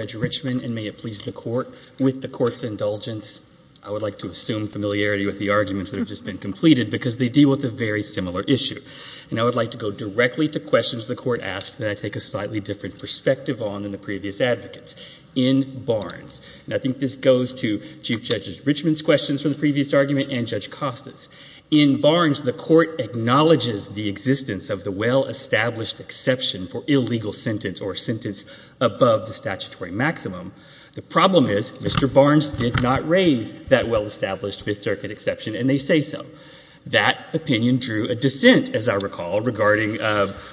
Judge Richman, and may it please the Court, with the Court's indulgence, I would like to assume familiarity with the arguments that have just been completed because they deal with a very similar issue. And I would like to go directly to questions the Court asks that I take a slightly different perspective on than the previous advocates. In Barnes, and I think this goes to Chief Judge Richman's questions from the previous argument and Judge Costas, in Barnes the Court acknowledges the existence of the well-established exception for illegal sentence or sentence above the statutory maximum. The problem is Mr. Barnes did not raise that well-established Fifth Circuit exception, and they say so. That opinion drew a dissent, as I recall, regarding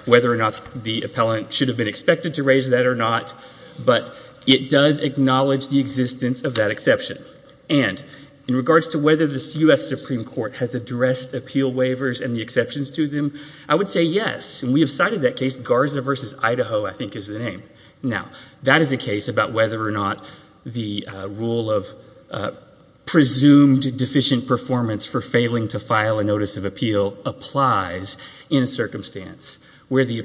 whether or not the appellant should have been expected to raise that or not, but it does acknowledge the existence of that exception. And in regards to whether the U.S. Supreme Court has addressed appeal waivers and the exceptions to them, I would say yes. And we have cited that case, Garza v. Idaho, I think is the name. Now, that is a case about whether or not the rule of presumed deficient performance for failing to file a notice of appeal applies in a circumstance where the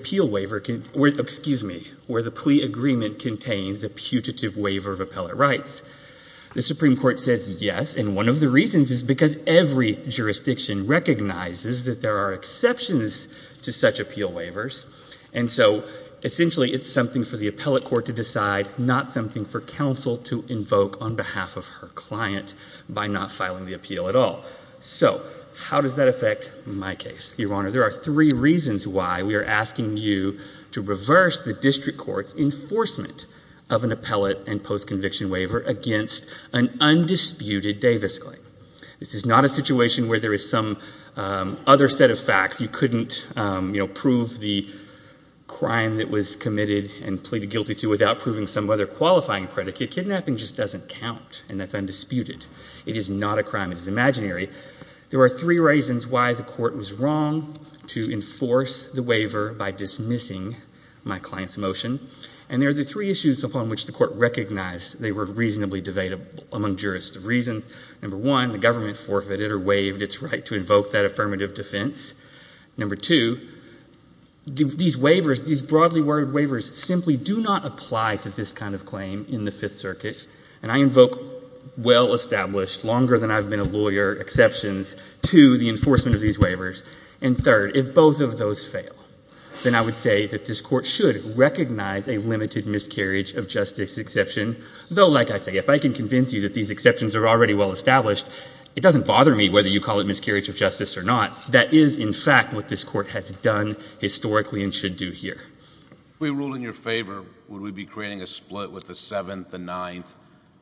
plea agreement contains a putative waiver of appellate rights. The Supreme Court says yes, and one of the reasons is because every jurisdiction recognizes that there are exceptions to such appeal waivers, and so essentially it's something for the appellate court to decide, not something for counsel to invoke on behalf of her client by not filing the appeal at all. So how does that affect my case? Your Honor, there are three reasons why we are asking you to reverse the district court's enforcement of an appellate and post-conviction waiver against an undisputed Davis claim. This is not a situation where there is some other set of facts. You couldn't prove the crime that was committed and pleaded guilty to without proving some other qualifying predicate. Kidnapping just doesn't count, and that's undisputed. It is not a crime. It is imaginary. There are three reasons why the court was wrong to enforce the waiver by dismissing my client's motion, and there are the three issues upon which the court recognized they were reasonably debatable among jurists. Number one, the government forfeited or waived its right to invoke that affirmative defense. Number two, these waivers, these broadly worded waivers, simply do not apply to this kind of claim in the Fifth Circuit, and I invoke well-established, longer-than-I've-been-a-lawyer exceptions to the enforcement of these waivers. And third, if both of those fail, then I would say that this Court should recognize a limited miscarriage of justice exception, though, like I say, if I can convince you that these exceptions are already well-established, it doesn't bother me whether you call it miscarriage of justice or not. That is, in fact, what this Court has done historically and should do here. If we rule in your favor, would we be creating a split with the Seventh, the Ninth,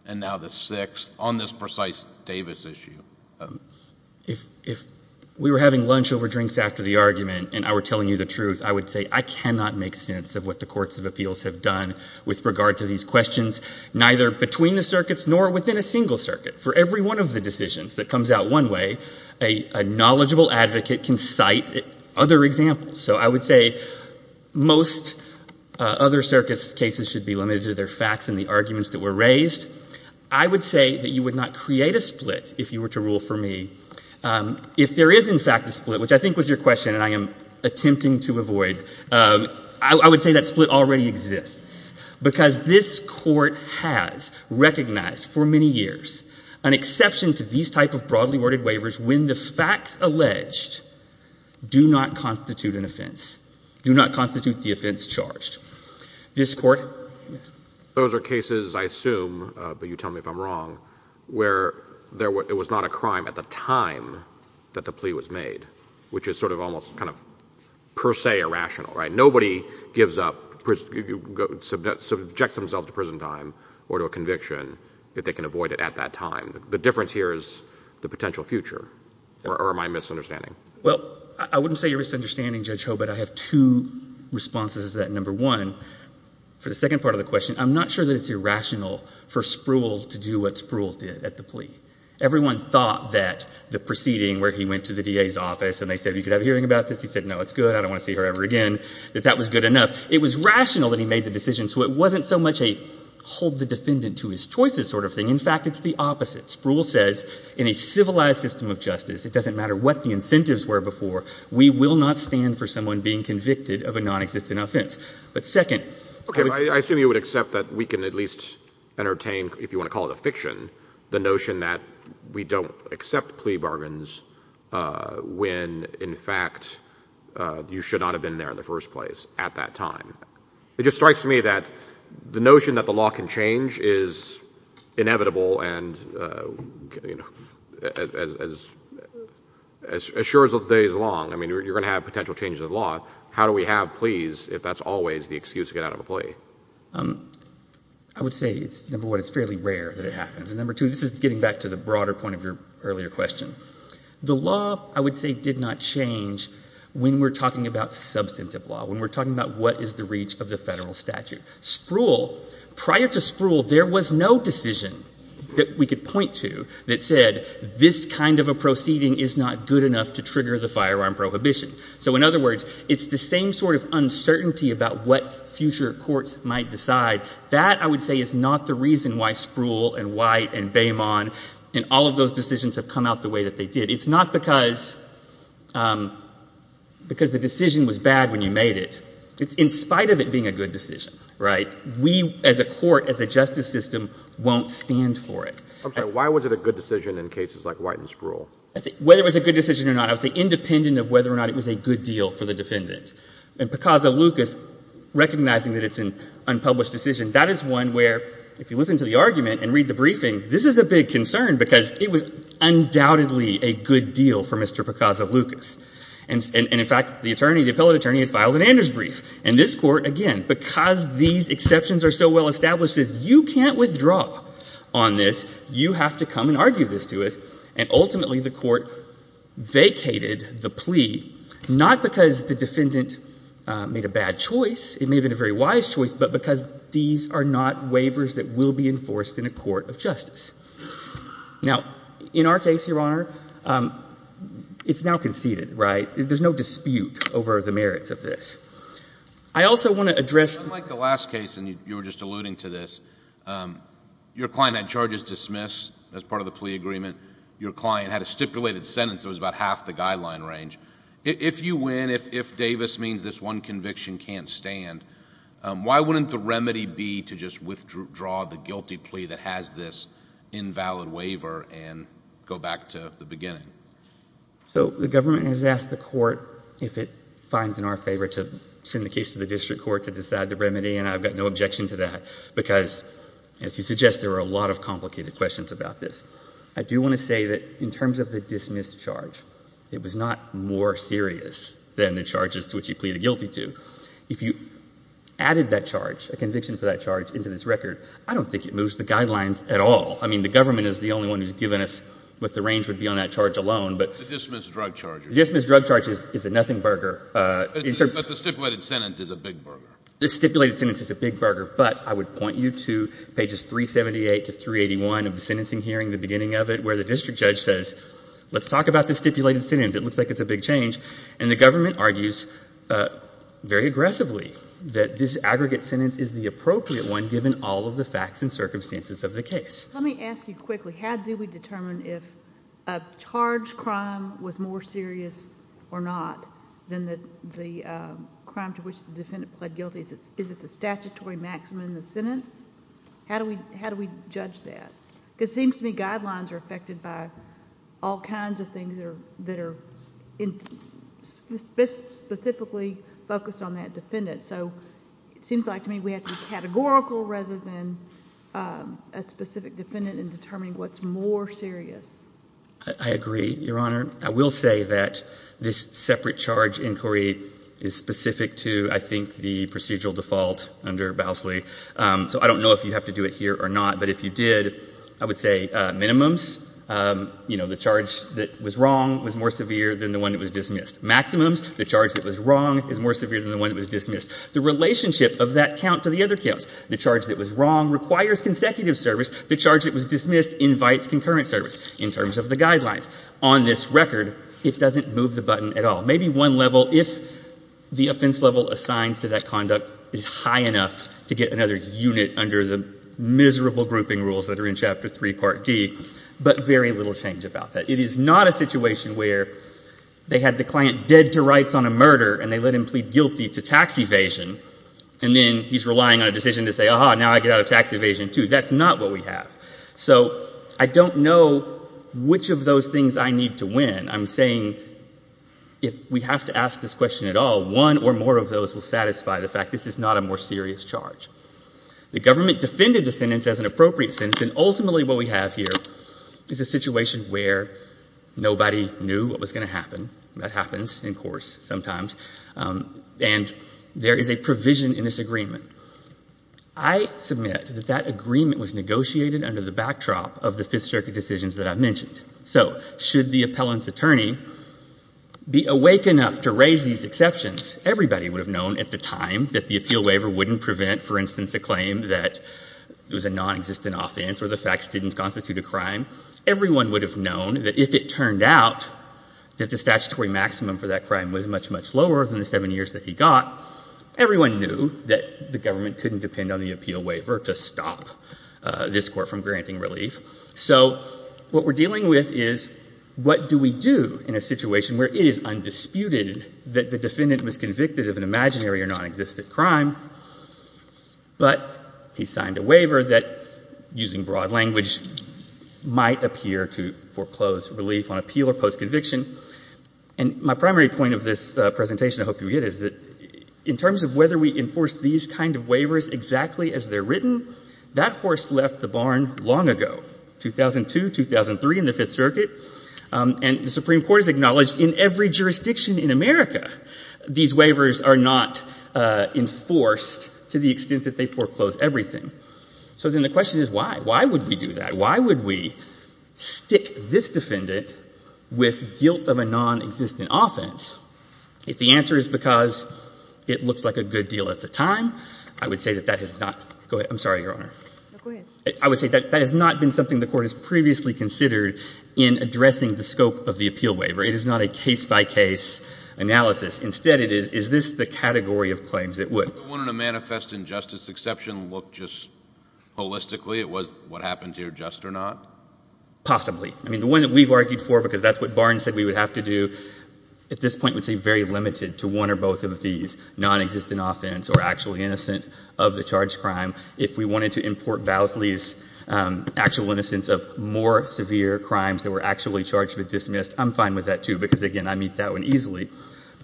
and now the Sixth on this precise Davis issue? If we were having lunch over drinks after the argument and I were telling you the truth, I would say I cannot make sense of what the courts of appeals have done with regard to these questions, neither between the circuits nor within a single circuit. For every one of the decisions that comes out one way, a knowledgeable advocate can cite other examples. So I would say most other circuits' cases should be limited to their facts and the arguments that were raised. I would say that you would not create a split if you were to rule for me. If there is, in fact, a split, which I think was your question, and I am attempting to avoid, I would say that split already exists, because this Court has recognized for many years an exception to these type of broadly worded waivers when the facts alleged do not constitute an offense, do not constitute the offense charged. This Court? Those are cases, I assume, but you tell me if I'm wrong, where it was not a crime at the time that the plea was made, which is sort of almost kind of per se irrational. Nobody gives up, subjects themselves to prison time or to a conviction if they can avoid it at that time. The difference here is the potential future, or am I misunderstanding? Well, I wouldn't say you're misunderstanding, Judge Hobart. I have two responses to that. Number one, for the second part of the question, I'm not sure that it's irrational for Spruill to do what Spruill did at the plea. Everyone thought that the proceeding where he went to the DA's office and they said, you could have a hearing about this, he said, no, it's good, I don't want to see her ever again, that that was good enough. It was rational that he made the decision, so it wasn't so much a hold the defendant to his choices sort of thing. In fact, it's the opposite. Spruill says in a civilized system of justice, it doesn't matter what the incentives were before, we will not stand for someone being convicted of a nonexistent offense. But second— Okay, I assume you would accept that we can at least entertain, if you want to call it a fiction, the notion that we don't accept plea bargains when, in fact, you should not have been there in the first place at that time. It just strikes me that the notion that the law can change is inevitable and, you know, as sure as the day is long, I mean, you're going to have potential changes in the law. How do we have pleas if that's always the excuse to get out of a plea? I would say, number one, it's fairly rare that it happens. And number two, this is getting back to the broader point of your earlier question. The law, I would say, did not change when we're talking about substantive law, when we're talking about what is the reach of the federal statute. Spruill, prior to Spruill, there was no decision that we could point to that said this kind of a proceeding is not good enough to trigger the firearm prohibition. So, in other words, it's the same sort of uncertainty about what future courts might decide. That, I would say, is not the reason why Spruill and White and Baymont and all of those decisions have come out the way that they did. It's not because the decision was bad when you made it. It's in spite of it being a good decision, right? We, as a court, as a justice system, won't stand for it. I'm sorry. Why was it a good decision in cases like White and Spruill? Whether it was a good decision or not, I would say, independent of whether or not it was a good deal for the defendant. And Picazzo-Lucas, recognizing that it's an unpublished decision, that is one where, if you listen to the argument and read the briefing, this is a big concern because it was undoubtedly a good deal for Mr. Picazzo-Lucas. And in fact, the attorney, the appellate attorney, had filed an Anders brief. And this Court, again, because these exceptions are so well established that you can't withdraw on this, you have to come and argue this to us. And ultimately, the Court vacated the plea, not because the defendant made a bad choice, it may have been a very wise choice, but because these are not waivers that will be enforced in a court of justice. Now, in our case, Your Honor, it's now conceded, right? There's no dispute over the merits of this. I also want to address — Unlike the last case, and you were just alluding to this, your client had charges dismissed as part of the plea agreement. Your client had a stipulated sentence that was about half the guideline range. If you win, if Davis means this one conviction can't stand, why wouldn't the remedy be to just withdraw the guilty plea that has this invalid waiver and go back to the beginning? So the government has asked the Court, if it finds in our favor, to send the case to the district court to decide the remedy, and I've got no objection to that, because, as you suggest, there are a lot of complicated questions about this. I do want to say that in terms of the dismissed charge, it was not more serious than the charges to which he pleaded guilty to. If you added that charge, a conviction for that charge, into this record, I don't think it moves the guidelines at all. I mean, the government is the only one who's given us what the range would be on that charge alone, but — The dismissed drug charges. Dismissed drug charges is a nothing burger. But the stipulated sentence is a big burger. The stipulated sentence is a big burger, but I would point you to pages 378 to 381 of the sentencing hearing, the beginning of it, where the district judge says, let's talk about the stipulated sentence. It looks like it's a big change. And the government argues very aggressively that this aggregate sentence is the appropriate one, given all of the facts and circumstances of the case. Let me ask you quickly, how do we determine if a charged crime was more serious or not than the crime to which the defendant pled guilty? Is it the statutory maximum in the sentence? How do we judge that? Because it seems to me guidelines are affected by all kinds of things that are specifically focused on that defendant. So it seems like to me we have to be categorical rather than a specific defendant in determining what's more serious. I agree, Your Honor. I will say that this separate charge inquiry is specific to, I think, the procedural default under Bousley. So I don't know if you have to do it here or not. But if you did, I would say minimums, you know, the charge that was wrong was more severe than the one that was dismissed. Maximums, the charge that was wrong is more severe than the one that was dismissed. The relationship of that count to the other counts, the charge that was wrong requires consecutive service. The charge that was dismissed invites concurrent service in terms of the guidelines. On this record, it doesn't move the button at all. Maybe one level, if the offense level assigned to that conduct is high enough to get another unit under the miserable grouping rules that are in Chapter 3, Part D, but very little change about that. It is not a situation where they had the client dead to rights on a murder and they let him plead guilty to tax evasion, and then he's relying on a decision to say, aha, now I get out of tax evasion, too. That's not what we have. So I don't know which of those things I need to win. I'm saying if we have to ask this question at all, one or more of those will satisfy the fact this is not a more serious charge. The government defended the sentence as an appropriate sentence, and ultimately what we have here is a situation where nobody knew what was going to happen. That happens in disagreement. I submit that that agreement was negotiated under the backdrop of the Fifth Circuit decisions that I mentioned. So should the appellant's attorney be awake enough to raise these exceptions, everybody would have known at the time that the appeal waiver wouldn't prevent, for instance, a claim that it was a nonexistent offense or the facts didn't constitute a crime. Everyone would have known that if it turned out that the statutory maximum for that crime was much, much lower than the seven years that he got, everyone knew that the government couldn't depend on the appeal waiver to stop this Court from granting relief. So what we're dealing with is what do we do in a situation where it is undisputed that the defendant was convicted of an imaginary or nonexistent crime, but he signed a waiver that, using broad language, might appear to foreclose relief on appeal or postconviction. And my primary point of this presentation, I hope you get it, is that in terms of whether we enforce these kind of waivers exactly as they're written, that horse left the barn long ago, 2002, 2003, in the Fifth Circuit. And the Supreme Court has acknowledged in every jurisdiction in America these waivers are not enforced to the extent that they foreclose everything. So then the question is why? Why would we do that? Why would we stick this defendant with guilt of a nonexistent offense? If the answer is because it looked like a good deal at the time, I would say that that has not — go ahead. I'm sorry, Your Honor. No, go ahead. I would say that that has not been something the Court has previously considered in addressing the scope of the appeal waiver. It is not a case-by-case analysis. Instead, it is, is this the category of claims that would? Would the one on a manifest injustice exception look just holistically? It was what happened here, just or not? Possibly. I mean, the one that we've argued for, because that's what Barnes said we would have to do, at this point would say very limited to one or both of these, nonexistent offense or actually innocent of the charged crime. If we wanted to import Vowsley's actual innocence of more severe crimes that were actually charged with dismiss, I'm fine with that, too, because, again, I meet that one easily.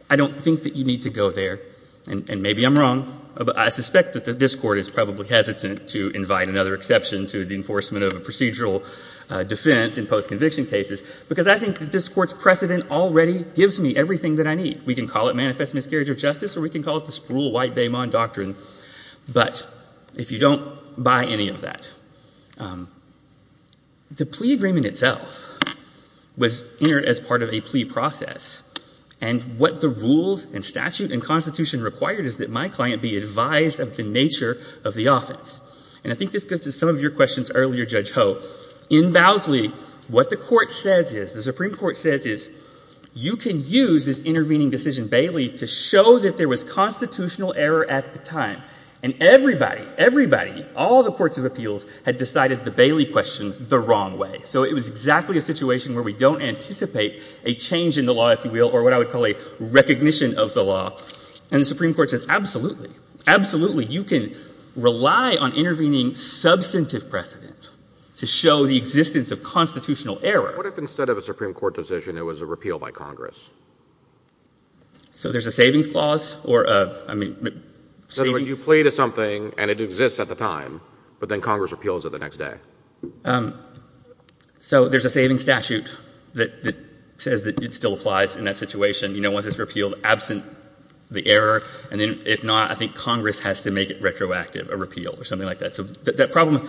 I don't think that you need to go there, and maybe I'm wrong, but I suspect that this Court is probably hesitant to invite another exception to the enforcement of a procedural defense in post-conviction cases, because I think that this Court's precedent already gives me everything that I need. We can call it manifest miscarriage of justice, or we can call it the sprule White-Beamon doctrine, but if you don't buy any of that. The plea agreement itself was entered as part of a plea process, and what the rules and statute and constitution required is that my client be advised of the nature of the offense. And I think this goes to some of your questions earlier, Judge Ho. In Vowsley, what the Court says is, the Supreme Court says is, you can use this intervening decision, Bailey, to show that there was constitutional error at the time, and everybody, everybody, all the courts of appeals had decided the Bailey question the wrong way. So it was exactly a situation where we don't anticipate a change in the law, if you will, or what I would call a recognition of the law. And the Supreme Court says, absolutely, absolutely, you can rely on intervening substantive precedent to show the existence of constitutional error. What if instead of a Supreme Court decision, it was a repeal by Congress? So there's a savings clause, or a, I mean, a savings clause? And it exists at the time, but then Congress repeals it the next day. So there's a savings statute that says that it still applies in that situation, you know, once it's repealed, absent the error, and then if not, I think Congress has to make it retroactive, a repeal, or something like that. So that problem,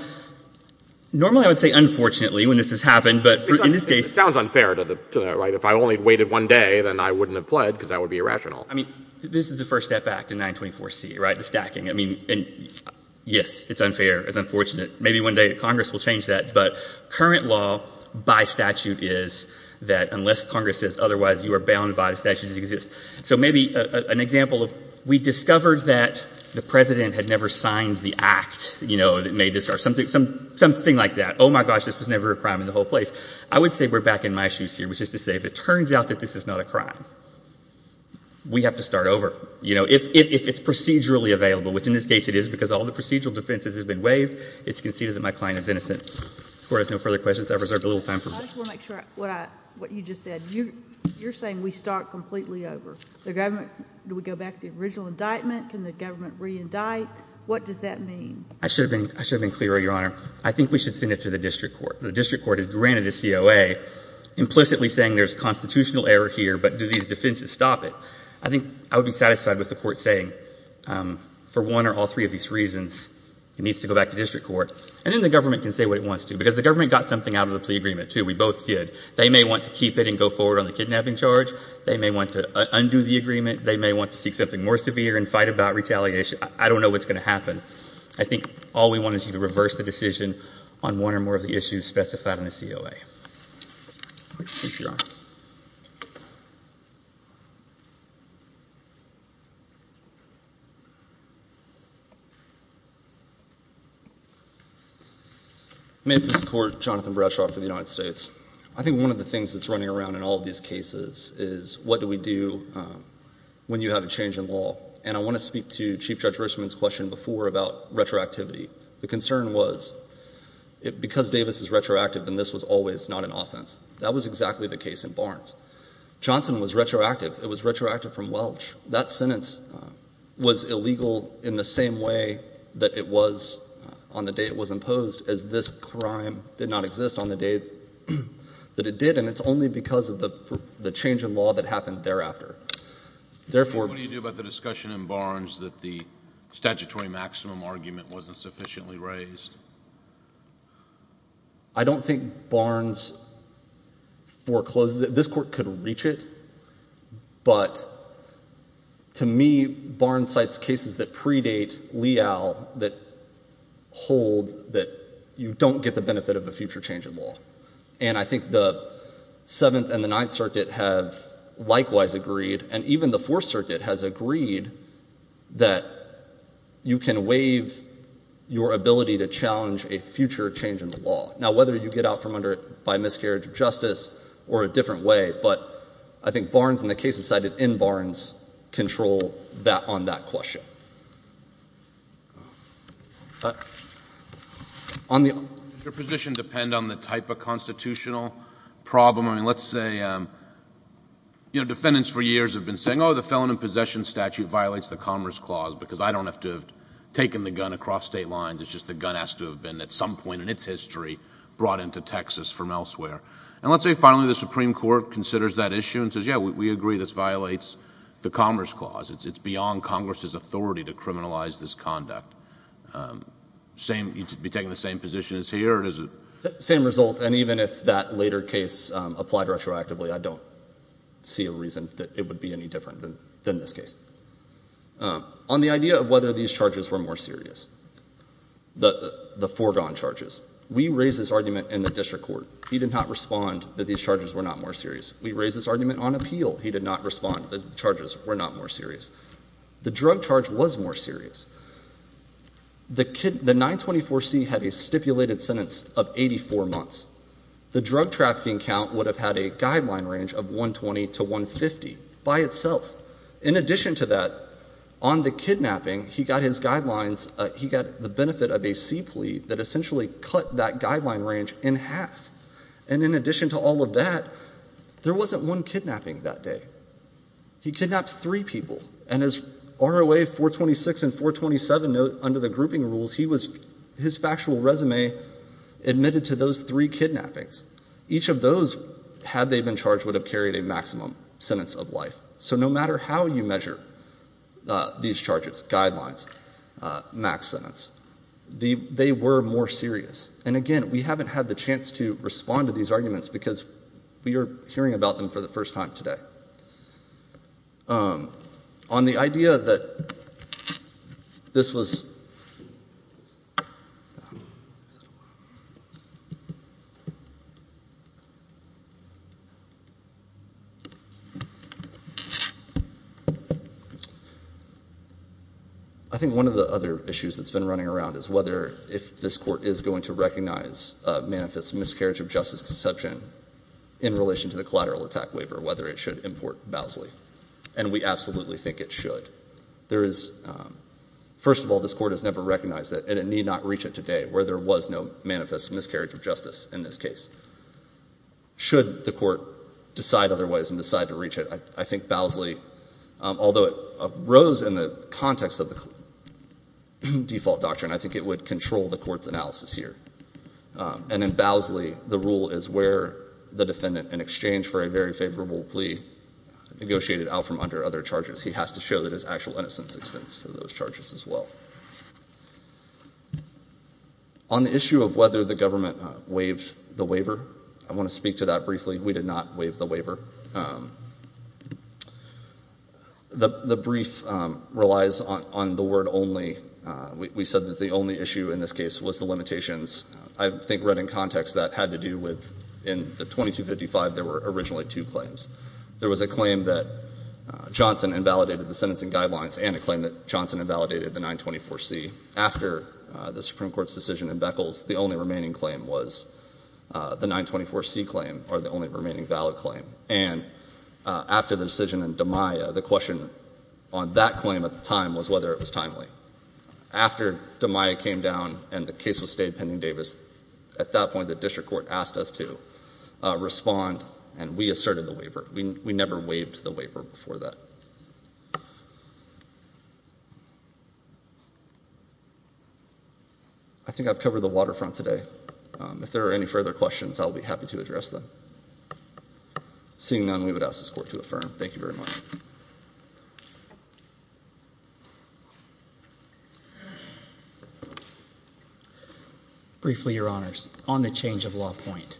normally I would say unfortunately when this has happened, but in this case... It sounds unfair to the, right? If I only waited one day, then I wouldn't have pled, because that would be irrational. I mean, this is the first step back to 924C, right? The stacking. I mean, and yes, it's unfair, it's unfortunate. Maybe one day Congress will change that, but current law by statute is that unless Congress says otherwise, you are bound by the statutes that exist. So maybe an example of, we discovered that the President had never signed the act, you know, that made this, or something, something like that. Oh my gosh, this was never a crime in the whole place. I would say we're back in my shoes here, which is to say if it turns out that this is not a crime, we have to start over. You know, if it's procedurally available, which in this case it is, because all the procedural defenses have been waived, it's conceded that my client is innocent. If the Court has no further questions, I've reserved a little time for... I just want to make sure what I, what you just said. You're saying we start completely over. The government, do we go back to the original indictment? Can the government re-indict? What does that mean? I should have been, I should have been clearer, Your Honor. I think we should send it to the defenses. Stop it. I think I would be satisfied with the Court saying, for one or all three of these reasons, it needs to go back to district court. And then the government can say what it wants to, because the government got something out of the plea agreement, too. We both did. They may want to keep it and go forward on the kidnapping charge. They may want to undo the agreement. They may want to seek something more severe and fight about retaliation. I don't know what's going to happen. I think all we want is to reverse the decision on one or more of the issues specified in the COA. Thank you, Your Honor. May it please the Court, Jonathan Bradshaw for the United States. I think one of the things that's running around in all of these cases is, what do we do when you have a change in law? And I want to speak to Chief Judge Richman's question before about retroactivity. The concern was, because Davis is retroactive, then this was always not an offense. That was exactly the case in Barnes. Johnson was retroactive. It was retroactive from Welch. That sentence was illegal in the same way that it was on the day it was imposed, as this crime did not exist on the day that it did. And it's only because of the change in law that happened thereafter. What do you do about the discussion in Barnes that the statutory maximum argument wasn't sufficiently raised? I don't think Barnes forecloses it. This Court could reach it. But to me, Barnes cites cases that predate Leal that hold that you don't get the benefit of a future change in law. And I think the Seventh and the Ninth Circuit have likewise agreed, and even the Fourth Circuit has agreed, that you can waive your ability to challenge a future change in the law. Now, whether you get out by miscarriage of justice or a different way, but I think Barnes and the cases cited in Barnes control on that question. Does your position depend on the type of constitutional problem? I mean, let's say, you know, defendants for years have been saying, oh, the felon in possession statute violates the Commerce Clause, because I don't have to have taken the gun across state lines. It's just the gun has to have been, at some point in its history, brought into Texas from elsewhere. And let's say, finally, the Supreme Court considers that issue and says, yeah, we agree this violates the Commerce Clause. It's beyond Congress's authority to criminalize this conduct. You'd be taking the same position as here, or is it... different than this case? On the idea of whether these charges were more serious, the foregone charges, we raised this argument in the district court. He did not respond that these charges were not more serious. We raised this argument on appeal. He did not respond that the charges were not more serious. The drug charge was more serious. The 924C had a stipulated sentence of 84 months. The drug trafficking count would have had a guideline range of 120 to 150. By itself. In addition to that, on the kidnapping, he got his guidelines, he got the benefit of a C plea that essentially cut that guideline range in half. And in addition to all of that, there wasn't one kidnapping that day. He kidnapped three people. And as ROA 426 and 427 note under the grouping rules, he was, his factual resume admitted to those three kidnappings. Each of those, had they been charged, would have carried a maximum sentence of life. So no matter how you measure these charges, guidelines, max sentence, they were more serious. And again, we haven't had the chance to respond to these arguments because we are hearing about them for the first time today. On the idea that this was... I think one of the other issues that's been running around is whether if this court is going to recognize a manifest miscarriage of justice exception in relation to the collateral attack waiver, whether it should import Bowsley. And we absolutely think it should. There is... first of all, this court has never recognized it and it need not reach it today where there was no manifest miscarriage of justice in this case. Should the court decide otherwise and decide to reach it, I think Bowsley, although it rose in the context of the default doctrine, I think it would control the court's analysis here. And in Bowsley, the rule is where the defendant, in exchange for a very favorable plea, negotiated out from under other charges. He has to show that his actual innocence extends to those charges as well. On the issue of whether the government waived the waiver, I want to speak to that briefly. We did not waive the waiver. The brief relies on the word only. We said that the only issue in this case was the limitations. I think right in context, that had to do with... In the 2255, there were originally two claims. There was a claim that Johnson invalidated the sentencing guidelines and a claim that Johnson invalidated the 924C. After the Supreme Court's decision in Beckels, the only remaining claim was the 924C claim, or the only remaining valid claim. And after the decision in DiMaia, the question on that claim at the time was whether it was timely. After DiMaia came down and the case was stayed pending Davis, at that point the district court asked us to respond and we did. I think I've covered the waterfront today. If there are any further questions, I'll be happy to address them. Seeing none, we would ask this court to affirm. Thank you very much. Briefly, Your Honors, on the change of law point,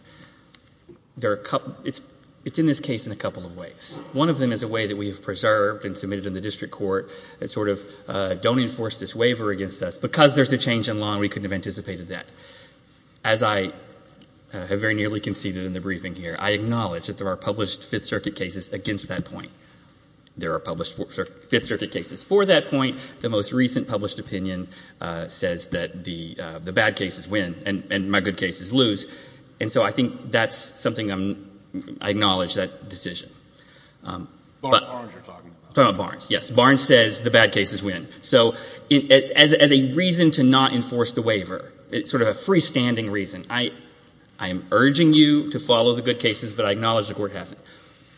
it's in this case in a couple of ways. One of them is a way that we have preserved and submitted in the district court that sort of don't enforce this waiver against us. Because there's a change in law, we couldn't have anticipated that. As I have very nearly conceded in the briefing here, I acknowledge that there are published Fifth Circuit cases against that point. There are published Fifth Circuit cases for that point. The most recent published opinion says that the bad cases win and my good cases lose. So I think that's something I acknowledge, that decision. Barnes says the bad cases win. So as a reason to not enforce the waiver, sort of a freestanding reason, I am urging you to follow the good cases, but I acknowledge the court hasn't.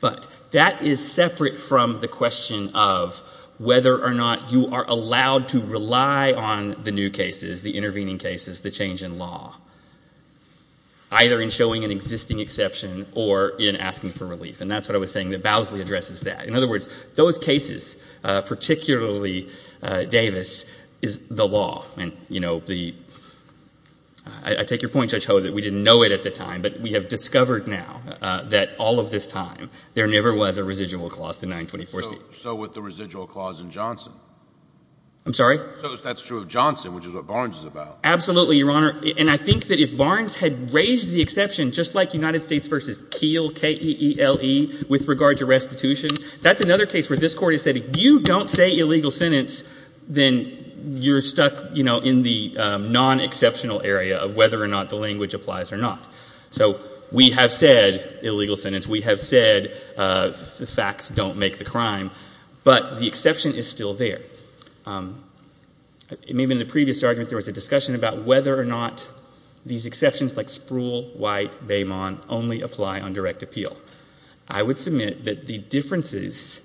But that is separate from the question of whether or not you are allowed to rely on the new cases, the intervening cases, the change in law. Either in showing an existing exception or in asking for relief. And that's what I was saying, that Bowsley addresses that. In other words, those cases, particularly Davis, is the law. I take your point, Judge Hogue, that we didn't know it at the time, but we have discovered now that all of this time there never was a residual clause to 924C. So with the residual clause in Johnson? I'm sorry? So that's true of Johnson, which is what Barnes is about. Absolutely, Your Honor. And I think that if Barnes had raised the exception, just like United States v. Keele, K-E-E-L-E, with regard to restitution, that's another case where this Court has said if you don't say illegal sentence, then you're stuck in the non-exceptional area of whether or not the language applies or not. So we have said illegal sentence. We have said the facts don't make the crime. But the exception is still there. Maybe in the previous argument there was a discussion about whether or not these exceptions like Spruill, White, Beaumont only apply on direct appeal. I would submit that the differences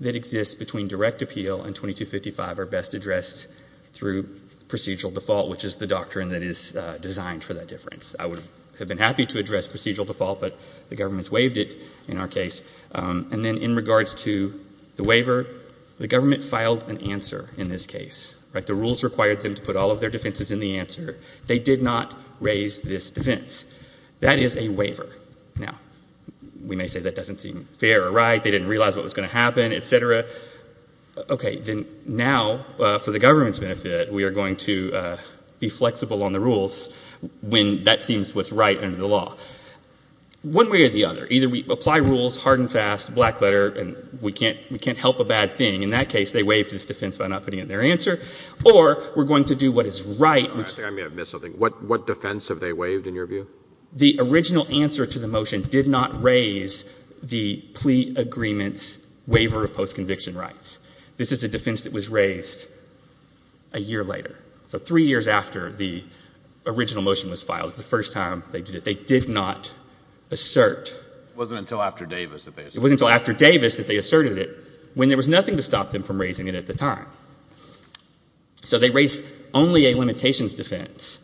that exist between direct appeal and 2255 are best addressed through procedural default, which is the doctrine that is designed for that difference. I would have been happy to address procedural default, but the government's waived it in our case. And then in regards to the waiver, the government filed an answer in this case. The rules required them to put all of their defenses in the answer. They did not raise this defense. That is a waiver. Now, we may say that doesn't seem fair or right. They didn't realize what was going to happen, et cetera. Okay. Then now, for the government's benefit, we are going to be flexible on the rules when that seems what's right under the law. One way or the other. Either we apply rules hard and fast, black letter, and we can't help a bad thing. In that case, they waived this defense by not raising it. The original answer to the motion did not raise the plea agreement's waiver of post-conviction rights. This is a defense that was raised a year later. So three years after the original motion was filed is the first time they did it. They did not assert. It wasn't until after Davis that they asserted it. It wasn't until after Davis that they asserted it, when there was nothing to stop them from raising it at the time. So they raised only a limitations defense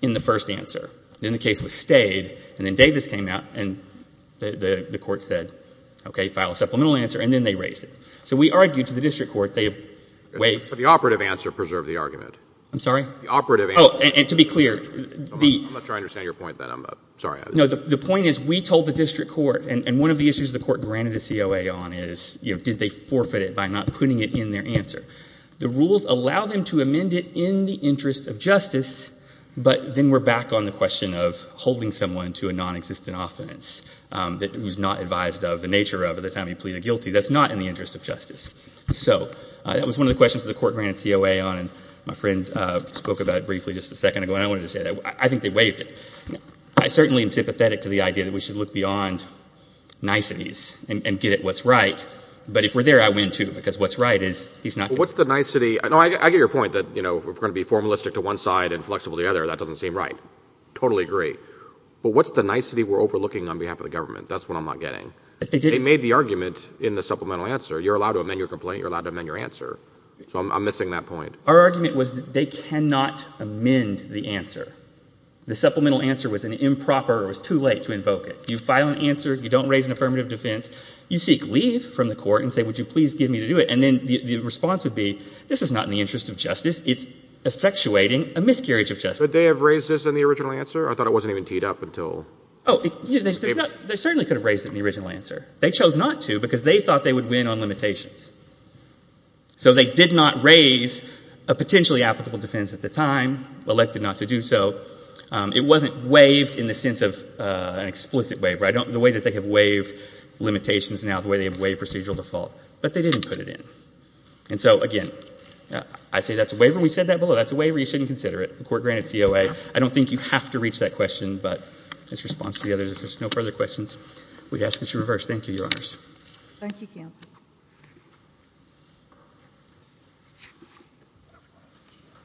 in the first answer. Then the case was stayed, and then Davis came out, and the court said, okay, file a supplemental answer, and then they raised it. So we argued to the district court. They waived. The operative answer preserved the argument. I'm sorry? The operative answer. Oh, and to be clear. I'm not sure I understand your point then. I'm sorry. No, the point is we told the district court, and one of the issues the court granted a COA on is did they forfeit it by not putting it in their answer. The rules allow them to amend it in the interest of justice, but then we're back on the question of holding someone to a non-existent offense that was not advised of the nature of at the time he pleaded guilty. That's not in the interest of justice. So that was one of the questions the court granted COA on. My friend spoke about it briefly just a second ago, and I wanted to say that. I think they waived it. I certainly am sympathetic to the idea that we should look beyond niceties and get at what's right, but if we're there, I win, too, because what's right is he's not. What's the nicety? No, I get your point that, you know, we're going to be formalistic to one side and flexible to the other. That doesn't seem right. Totally agree. But what's the nicety we're overlooking on behalf of the government? That's what I'm not getting. They made the argument in the supplemental answer, you're allowed to amend your complaint, you're allowed to amend your answer. So I'm missing that point. Our argument was that they cannot amend the answer. The supplemental answer was improper or it was too late to invoke it. You file an answer, you don't raise an affirmative defense, you seek leave from the court and say, would you please give me to do it, and then the response would be, this is not in the interest of justice, it's effectuating a miscarriage of justice. Could they have raised this in the original answer? I thought it wasn't even teed up until... Oh, they certainly could have raised it in the original answer. They chose not to because they thought they would win on limitations. So they did not raise a potentially applicable defense at the time, elected not to do so. It wasn't waived in the sense of an explicit waiver. The way that they have waived limitations now, the way they have waived procedural default. But they didn't put it in. And so, again, I say that's a waiver. We said that below. That's a waiver. You shouldn't consider it. The court granted COA. I don't think you have to reach that question. But in response to the others, if there's no further questions, we ask that you reverse. Thank you, Your Honors. Thank you, Counselor.